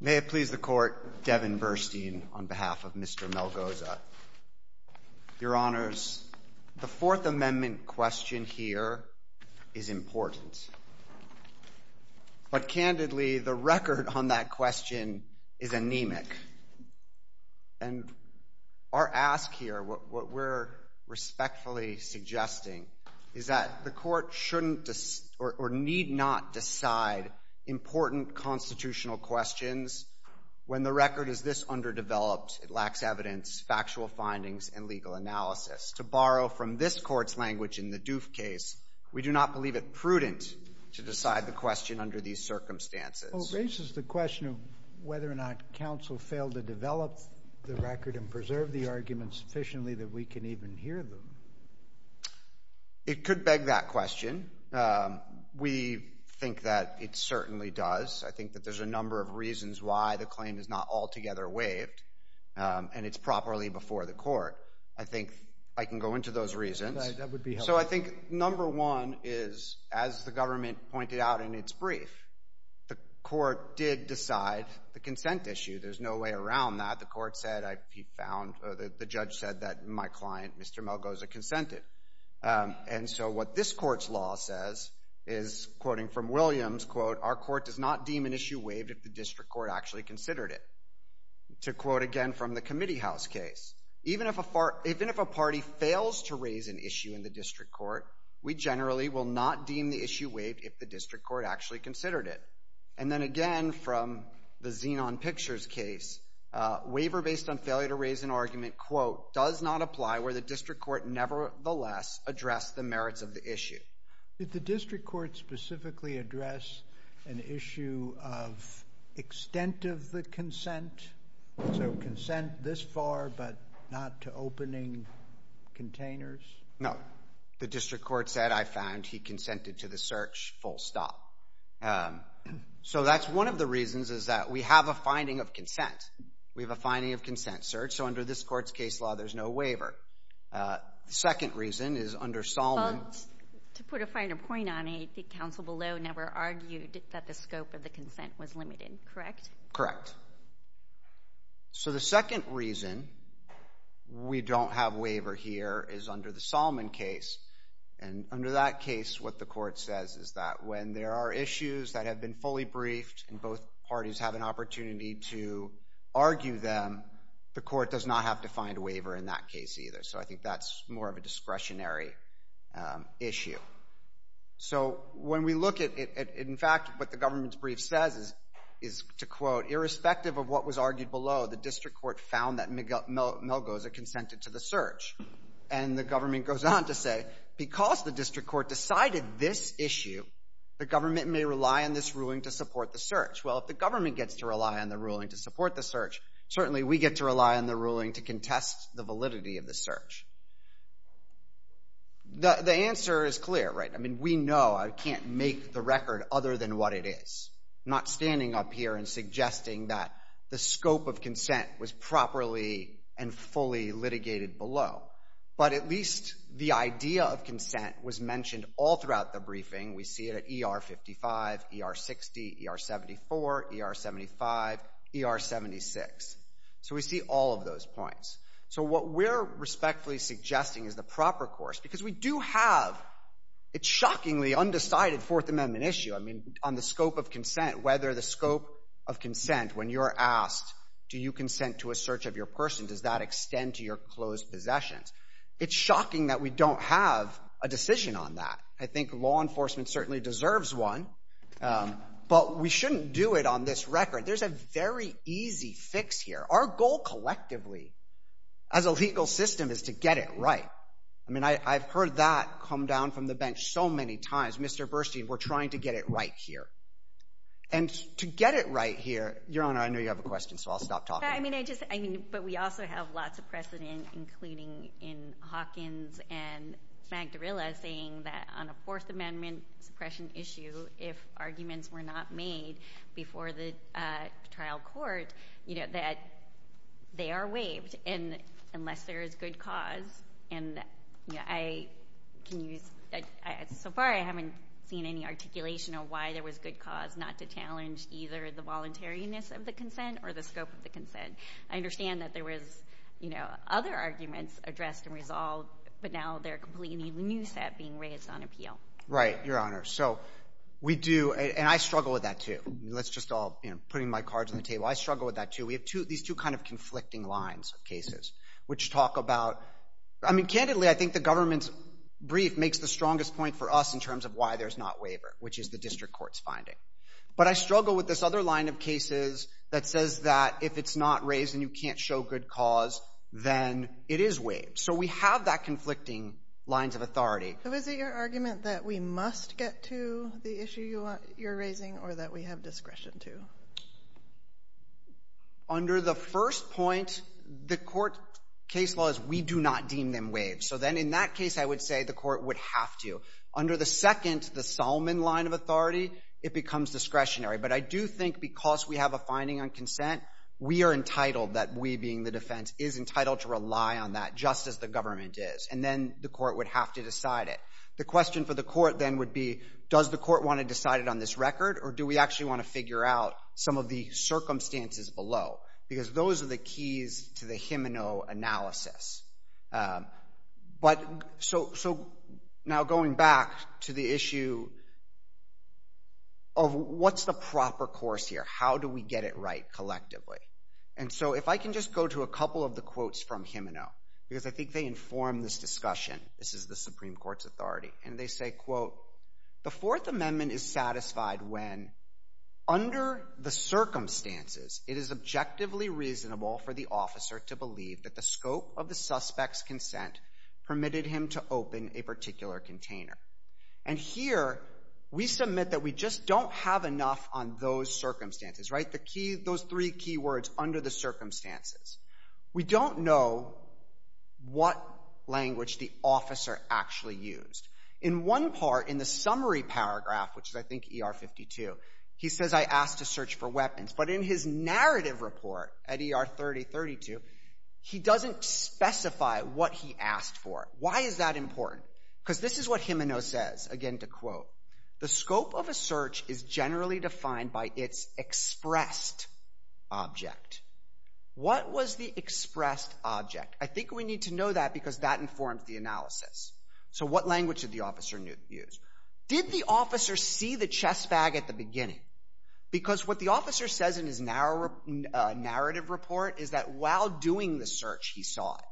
May it please the Court, Devin Burstein on behalf of Mr. Melgoza. Your Honors, the Fourth Amendment question here is important. But candidly, the record on that question is anemic. And our ask here, what we're respectfully suggesting, is that the Court shouldn't or need not decide important constitutional questions when the record is this underdeveloped, it lacks evidence, factual findings, and legal analysis. To borrow from this Court's language in the Doof case, we do not believe it prudent to decide the question under these circumstances. Well, it raises the question of whether or not counsel failed to develop the record and preserve the arguments sufficiently that we can even hear them. It could beg that question. We think that it certainly does. I think that there's a number of reasons why the claim is not altogether waived, and it's properly before the Court. I think I can go into those reasons. That would be helpful. So I think number one is, as the government pointed out in its brief, the Court did decide the consent issue. There's no way around that. The Court said, the judge said that my client, Mr. Melgoza, consented. And so what this Court's law says is, quoting from Williams, quote, our Court does not deem an issue waived if the district court actually considered it. To quote again from the Committee House case, even if a party fails to raise an issue in the district court, we generally will not deem the issue waived if the district court actually considered it. And then again from the Xenon Pictures case, waiver based on failure to raise an argument, quote, does not apply where the district court nevertheless addressed the merits of the issue. Did the district court specifically address an issue of extent of the consent? So consent this far but not to opening containers? No. The district court said, I found he consented to the search, full stop. So that's one of the reasons is that we have a finding of consent. We have a finding of consent search. So under this Court's case law, there's no waiver. The second reason is under Solomon. To put a finer point on it, the counsel below never argued that the scope of the consent was limited, correct? Correct. So the second reason we don't have waiver here is under the Solomon case. And under that case, what the Court says is that when there are issues that have been fully briefed and both parties have an opportunity to argue them, the Court does not have to find a waiver in that case either. So I think that's more of a discretionary issue. So when we look at it, in fact, what the government's brief says is, to quote, irrespective of what was argued below, the district court found that Melgoza consented to the search. And the government goes on to say, because the district court decided this issue, the government may rely on this ruling to support the search. Well, if the government gets to rely on the ruling to support the search, certainly we get to rely on the ruling to contest the validity of the search. The answer is clear, right? I mean, we know I can't make the record other than what it is. I'm not standing up here and suggesting that the scope of consent was properly and fully litigated below. But at least the idea of consent was mentioned all throughout the briefing. We see it at ER55, ER60, ER74, ER75, ER76. So we see all of those points. So what we're respectfully suggesting is the proper course, because we do have a shockingly undecided Fourth Amendment issue. I mean, on the scope of consent, whether the scope of consent, when you're asked, do you consent to a search of your person, does that extend to your closed possessions? It's shocking that we don't have a decision on that. I think law enforcement certainly deserves one. But we shouldn't do it on this record. There's a very easy fix here. Our goal collectively as a legal system is to get it right. I mean, I've heard that come down from the bench so many times. Mr. Burstein, we're trying to get it right here. And to get it right here, Your Honor, I know you have a question, so I'll stop talking. I mean, I just — I mean, but we also have lots of precedent, including in Hawkins and Magdarella, saying that on a Fourth Amendment suppression issue, if arguments were not made before the trial court, you know, that they are waived unless there is good cause. And, you know, I can use — so far I haven't seen any articulation of why there was good cause not to challenge either the voluntariness of the consent or the scope of the consent. I understand that there was, you know, other arguments addressed and resolved, but now they're completely new set being raised on appeal. Right, Your Honor. So we do — and I struggle with that, too. Let's just all — you know, putting my cards on the table, I struggle with that, too. We have two — these two kind of conflicting lines of cases, which talk about — I mean, candidly, I think the government's brief makes the strongest point for us in terms of why there's not waiver, which is the district court's finding. But I struggle with this other line of cases that says that if it's not raised and you can't show good cause, then it is waived. So we have that conflicting lines of authority. So is it your argument that we must get to the issue you're raising or that we have discretion to? Under the first point, the court case law is we do not deem them waived. So then in that case, I would say the court would have to. Under the second, the Solomon line of authority, it becomes discretionary. But I do think because we have a finding on consent, we are entitled, that we being the defense, is entitled to rely on that, just as the government is. And then the court would have to decide it. The question for the court then would be, does the court want to decide it on this record or do we actually want to figure out some of the circumstances below? Because those are the keys to the Gimeno analysis. But so now going back to the issue of what's the proper course here? How do we get it right collectively? And so if I can just go to a couple of the quotes from Gimeno, because I think they inform this discussion. This is the Supreme Court's authority. And they say, quote, the Fourth Amendment is satisfied when, under the circumstances, it is objectively reasonable for the officer to believe that the scope of the suspect's consent permitted him to open a particular container. And here we submit that we just don't have enough on those circumstances. Right? Those three key words, under the circumstances. We don't know what language the officer actually used. In one part, in the summary paragraph, which is I think ER 52, he says, I asked to search for weapons. But in his narrative report at ER 3032, he doesn't specify what he asked for. Why is that important? Because this is what Gimeno says, again to quote, the scope of a search is generally defined by its expressed object. What was the expressed object? I think we need to know that because that informs the analysis. So what language did the officer use? Did the officer see the chest bag at the beginning? Because what the officer says in his narrative report is that while doing the search, he saw it.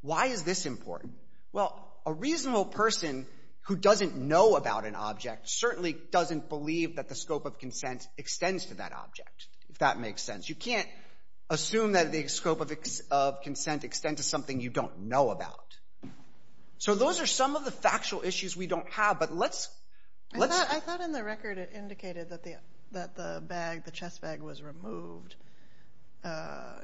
Why is this important? Well, a reasonable person who doesn't know about an object certainly doesn't believe that the scope of consent extends to that object, if that makes sense. You can't assume that the scope of consent extends to something you don't know about. So those are some of the factual issues we don't have. I thought in the record it indicated that the bag, the chest bag, was removed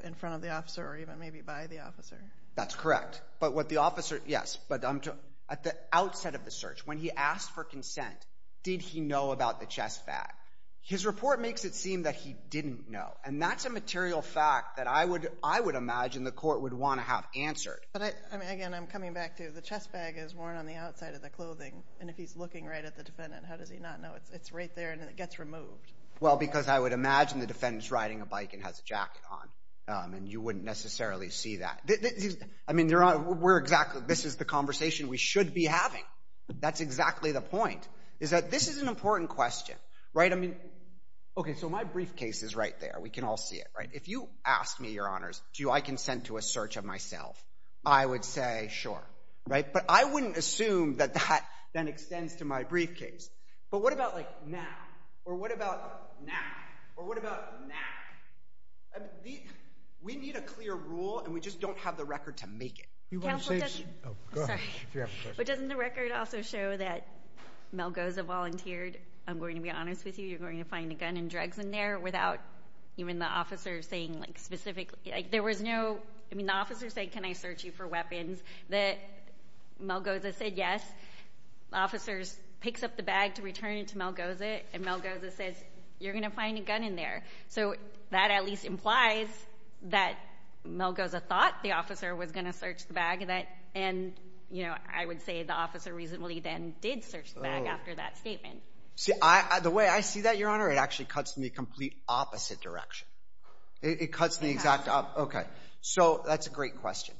in front of the officer or even maybe by the officer. That's correct. But what the officer, yes, but at the outset of the search, when he asked for consent, did he know about the chest bag? His report makes it seem that he didn't know. And that's a material fact that I would imagine the court would want to have answered. Again, I'm coming back to the chest bag is worn on the outside of the clothing, and if he's looking right at the defendant, how does he not know? It's right there and it gets removed. Well, because I would imagine the defendant is riding a bike and has a jacket on, and you wouldn't necessarily see that. I mean, this is the conversation we should be having. That's exactly the point, is that this is an important question. Okay, so my briefcase is right there. We can all see it. If you ask me, Your Honors, do I consent to a search of myself, I would say sure. But I wouldn't assume that that then extends to my briefcase. But what about, like, now? Or what about now? Or what about now? We need a clear rule and we just don't have the record to make it. Counsel, doesn't the record also show that Malgoza volunteered, I'm going to be honest with you, you're going to find a gun and drugs in there without even the officer saying, like, specifically. Like, there was no, I mean, the officer said, can I search you for weapons, that Malgoza said yes. The officer picks up the bag to return it to Malgoza, and Malgoza says, you're going to find a gun in there. So that at least implies that Malgoza thought the officer was going to search the bag, and, you know, I would say the officer reasonably then did search the bag after that statement. The way I see that, Your Honor, it actually cuts in the complete opposite direction. It cuts in the exact opposite. Okay. So that's a great question.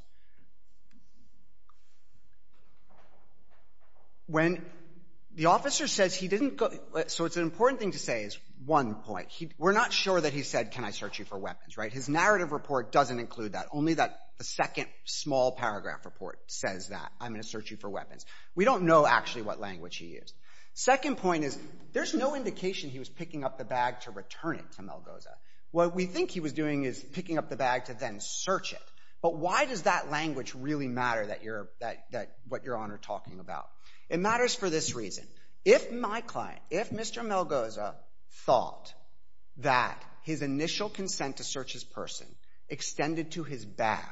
When the officer says he didn't go, so it's an important thing to say is one point. We're not sure that he said, can I search you for weapons, right? His narrative report doesn't include that. Only that the second small paragraph report says that. I'm going to search you for weapons. We don't know actually what language he used. Second point is there's no indication he was picking up the bag to return it to Malgoza. What we think he was doing is picking up the bag to then search it. But why does that language really matter, what Your Honor is talking about? It matters for this reason. If my client, if Mr. Malgoza thought that his initial consent to search his person extended to his bag,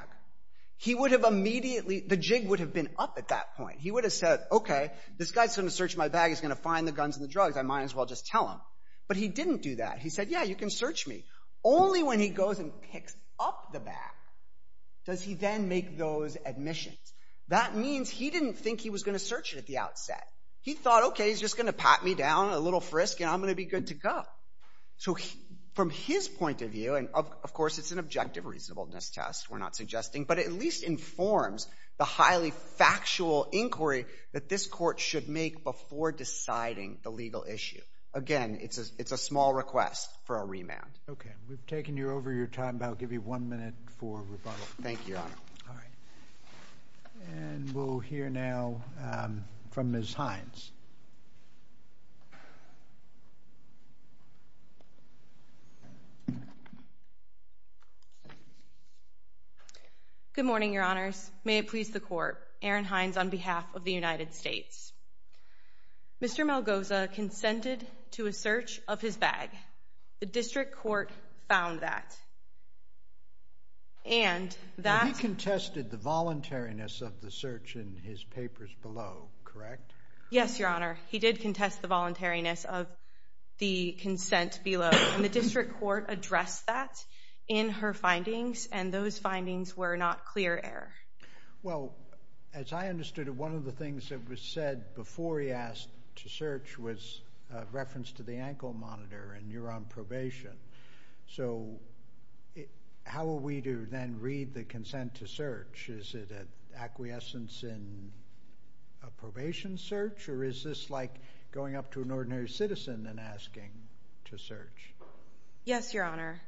he would have immediately, the jig would have been up at that point. He would have said, okay, this guy is going to search my bag. He's going to find the guns and the drugs. I might as well just tell him. But he didn't do that. He said, yeah, you can search me. Only when he goes and picks up the bag does he then make those admissions. That means he didn't think he was going to search it at the outset. He thought, okay, he's just going to pat me down, a little frisk, and I'm going to be good to go. So from his point of view, and of course it's an objective reasonableness test, we're not suggesting, but it at least informs the highly factual inquiry that this court should make before deciding the legal issue. Again, it's a small request for a remand. Okay. We've taken you over your time, but I'll give you one minute for rebuttal. Thank you, Your Honor. All right. And we'll hear now from Ms. Hines. Good morning, Your Honors. May it please the Court. Erin Hines on behalf of the United States. Mr. Malgoza consented to a search of his bag. The district court found that. He contested the voluntariness of the search in his papers below, correct? Yes, Your Honor. He did contest the voluntariness of the consent below, and the district court addressed that in her findings, and those findings were not clear error. Well, as I understood it, one of the things that was said before he asked to search was a reference to the ankle monitor, and you're on probation. So how are we to then read the consent to search? Is it an acquiescence in a probation search, or is this like going up to an ordinary citizen and asking to search? Yes, Your Honor.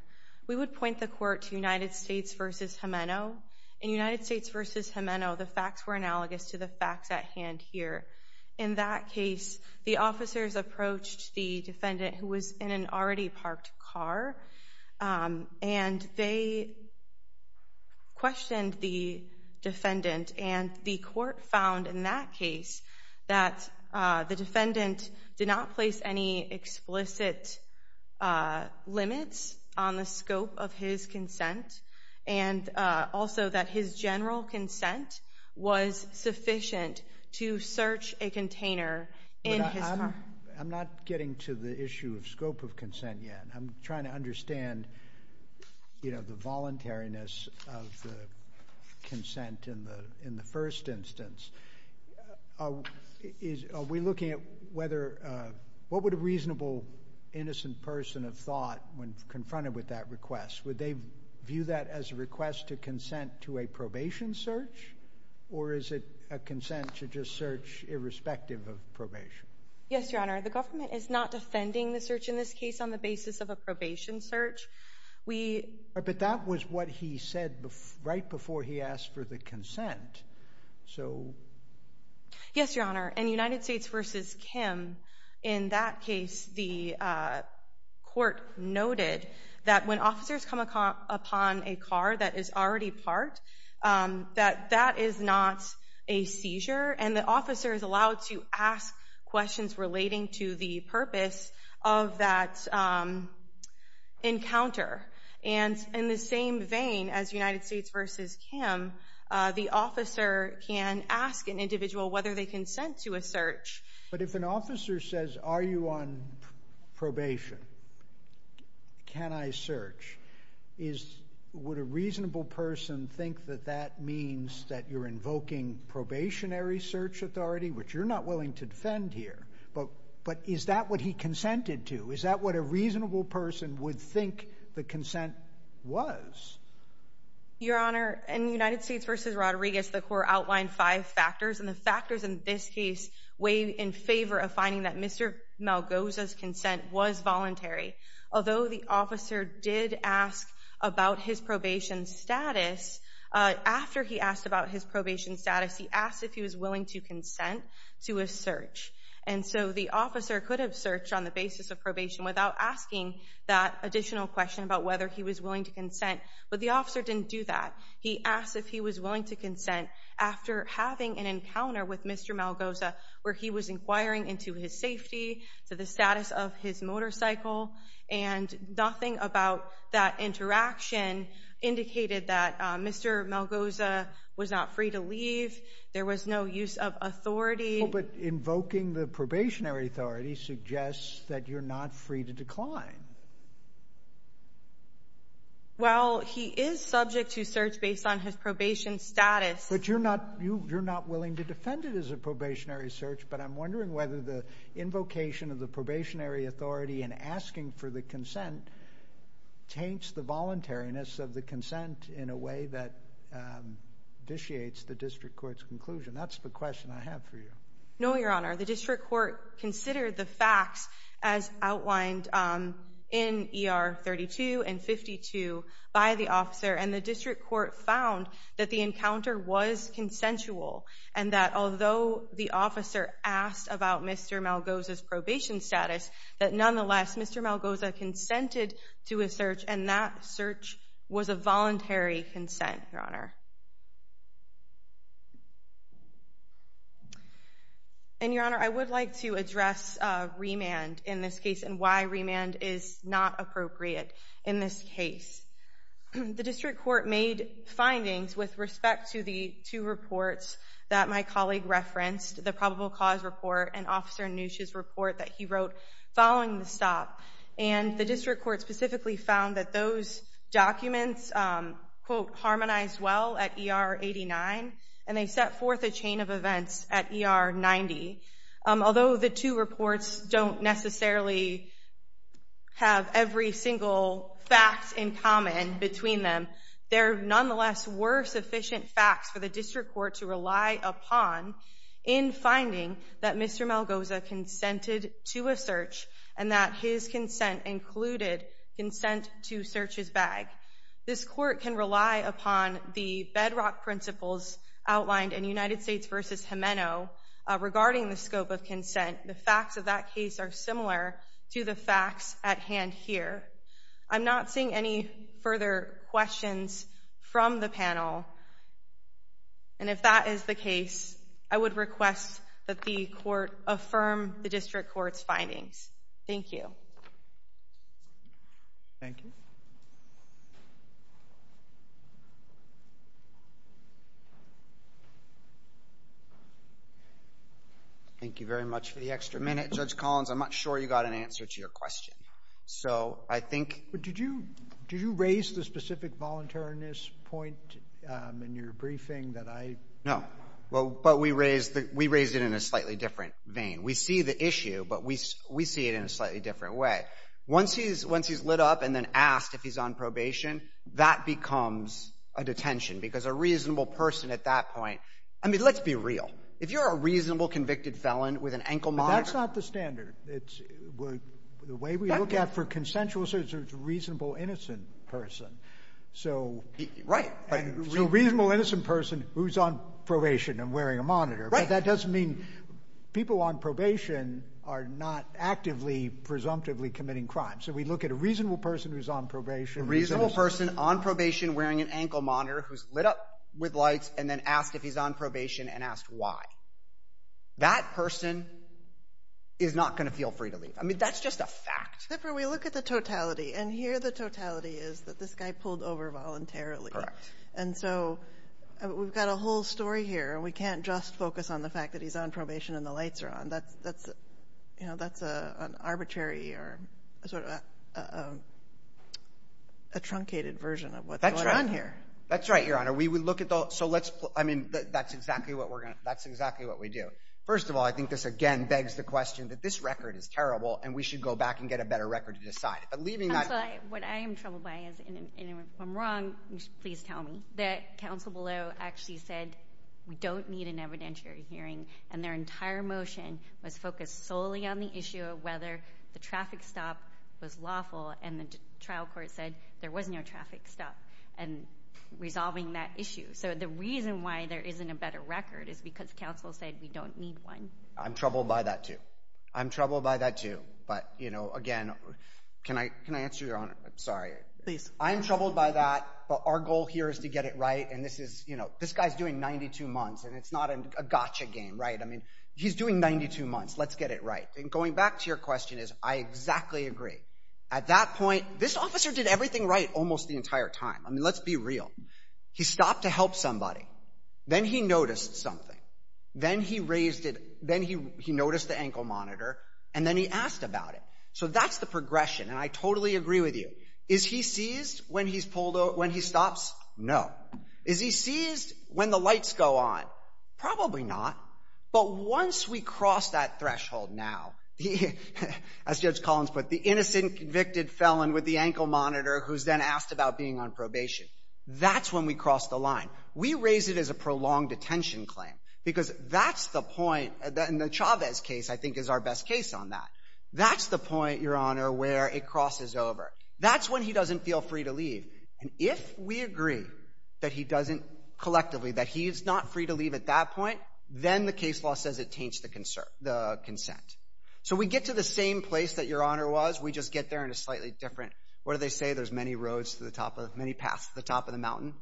We would point the court to United States v. Gimeno. In United States v. Gimeno, the facts were analogous to the facts at hand here. In that case, the officers approached the defendant who was in an already parked car, and they questioned the defendant, and the court found in that case that the defendant did not place any explicit limits on the scope of his consent, and also that his general consent was sufficient to search a container in his car. I'm not getting to the issue of scope of consent yet. I'm trying to understand, you know, the voluntariness of the consent in the first instance. Are we looking at whether what would a reasonable innocent person have thought when confronted with that request? Would they view that as a request to consent to a probation search, or is it a consent to just search irrespective of probation? Yes, Your Honor. The government is not defending the search in this case on the basis of a probation search. But that was what he said right before he asked for the consent. Yes, Your Honor. And United States v. Kim, in that case, the court noted that when officers come upon a car that is already parked, that that is not a seizure, and the officer is allowed to ask questions relating to the purpose of that encounter. And in the same vein as United States v. Kim, the officer can ask an individual whether they consent to a search. But if an officer says, Are you on probation? Can I search? Would a reasonable person think that that means that you're invoking probationary search authority, which you're not willing to defend here? But is that what he consented to? Is that what a reasonable person would think the consent was? Your Honor, in United States v. Rodriguez, the court outlined five factors, and the factors in this case weigh in favor of finding that Mr. Malgoza's consent was voluntary. Although the officer did ask about his probation status, after he asked about his probation status, he asked if he was willing to consent to a search. And so the officer could have searched on the basis of probation without asking that additional question about whether he was willing to consent, but the officer didn't do that. He asked if he was willing to consent after having an encounter with Mr. Malgoza where he was inquiring into his safety, to the status of his motorcycle, and nothing about that interaction indicated that Mr. Malgoza was not free to leave. There was no use of authority. But invoking the probationary authority suggests that you're not free to decline. Well, he is subject to search based on his probation status. But you're not willing to defend it as a probationary search, but I'm wondering whether the invocation of the probationary authority and asking for the consent taints the voluntariness of the consent in a way that vitiates the district court's conclusion. That's the question I have for you. No, Your Honor. The district court considered the facts as outlined in ER 32 and 52 by the officer, and the district court found that the encounter was consensual and that although the officer asked about Mr. Malgoza's probation status, that nonetheless Mr. Malgoza consented to a search, and that search was a voluntary consent, Your Honor. And, Your Honor, I would like to address remand in this case and why remand is not appropriate in this case. The district court made findings with respect to the two reports that my colleague referenced, the probable cause report and Officer Nusch's report that he wrote following the stop, and the district court specifically found that those documents, quote, at ER 89, and they set forth a chain of events at ER 90. Although the two reports don't necessarily have every single fact in common between them, there nonetheless were sufficient facts for the district court to rely upon in finding that Mr. Malgoza consented to a search and that his consent included consent to search his bag. This court can rely upon the bedrock principles outlined in United States v. Gimeno regarding the scope of consent. The facts of that case are similar to the facts at hand here. I'm not seeing any further questions from the panel, and if that is the case, I would request that the court affirm the district court's findings. Thank you. Thank you. Thank you very much for the extra minute. Judge Collins, I'm not sure you got an answer to your question. So I think – But did you raise the specific voluntariness point in your briefing that I – No, but we raised it in a slightly different vein. We see the issue, but we see it in a slightly different way. Once he's lit up and then asked if he's on probation, that becomes a detention, because a reasonable person at that point – I mean, let's be real. If you're a reasonable convicted felon with an ankle monitor – But that's not the standard. The way we look at for consensual search is a reasonable innocent person. Right. So a reasonable innocent person who's on probation and wearing a monitor. Right. But that doesn't mean people on probation are not actively, presumptively committing crime. So we look at a reasonable person who's on probation. A reasonable person on probation wearing an ankle monitor who's lit up with lights and then asked if he's on probation and asked why. That person is not going to feel free to leave. I mean, that's just a fact. Except for we look at the totality, and here the totality is that this guy pulled over voluntarily. Correct. And so we've got a whole story here, and we can't just focus on the fact that he's on probation and the lights are on. That's, you know, that's an arbitrary or sort of a truncated version of what's going on here. That's right, Your Honor. We look at the – so let's – I mean, that's exactly what we're going to – that's exactly what we do. First of all, I think this, again, begs the question that this record is terrible, and we should go back and get a better record to decide. But leaving that – Counsel, what I am troubled by is if I'm wrong, please tell me, that counsel below actually said we don't need an evidentiary hearing, and their entire motion was focused solely on the issue of whether the traffic stop was lawful, and the trial court said there was no traffic stop, and resolving that issue. So the reason why there isn't a better record is because counsel said we don't need one. I'm troubled by that, too. I'm troubled by that, too. But, you know, again, can I answer, Your Honor? I'm sorry. Please. I'm troubled by that, but our goal here is to get it right, and this is – you know, this guy's doing 92 months, and it's not a gotcha game, right? I mean, he's doing 92 months. Let's get it right. And going back to your question is I exactly agree. At that point, this officer did everything right almost the entire time. I mean, let's be real. He stopped to help somebody. Then he noticed something. Then he raised it – then he noticed the ankle monitor, and then he asked about it. So that's the progression, and I totally agree with you. Is he seized when he's pulled over – when he stops? No. Is he seized when the lights go on? Probably not. But once we cross that threshold now, as Judge Collins put it, the innocent, convicted felon with the ankle monitor who's then asked about being on probation, that's when we cross the line. We raise it as a prolonged detention claim because that's the point – and the Chavez case I think is our best case on that. That's the point, Your Honor, where it crosses over. That's when he doesn't feel free to leave. And if we agree that he doesn't collectively, that he's not free to leave at that point, then the case law says it taints the consent. So we get to the same place that Your Honor was. We just get there in a slightly different – what do they say? There's many roads to the top of – many paths to the top of the mountain.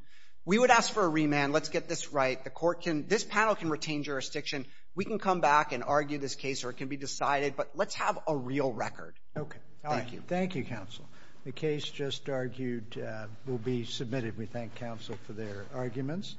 We would ask for a remand. Let's get this right. The court can – this panel can retain jurisdiction. We can come back and argue this case, or it can be decided, but let's have a real record. Okay. Thank you. Thank you, counsel. The case just argued will be submitted. We thank counsel for their arguments.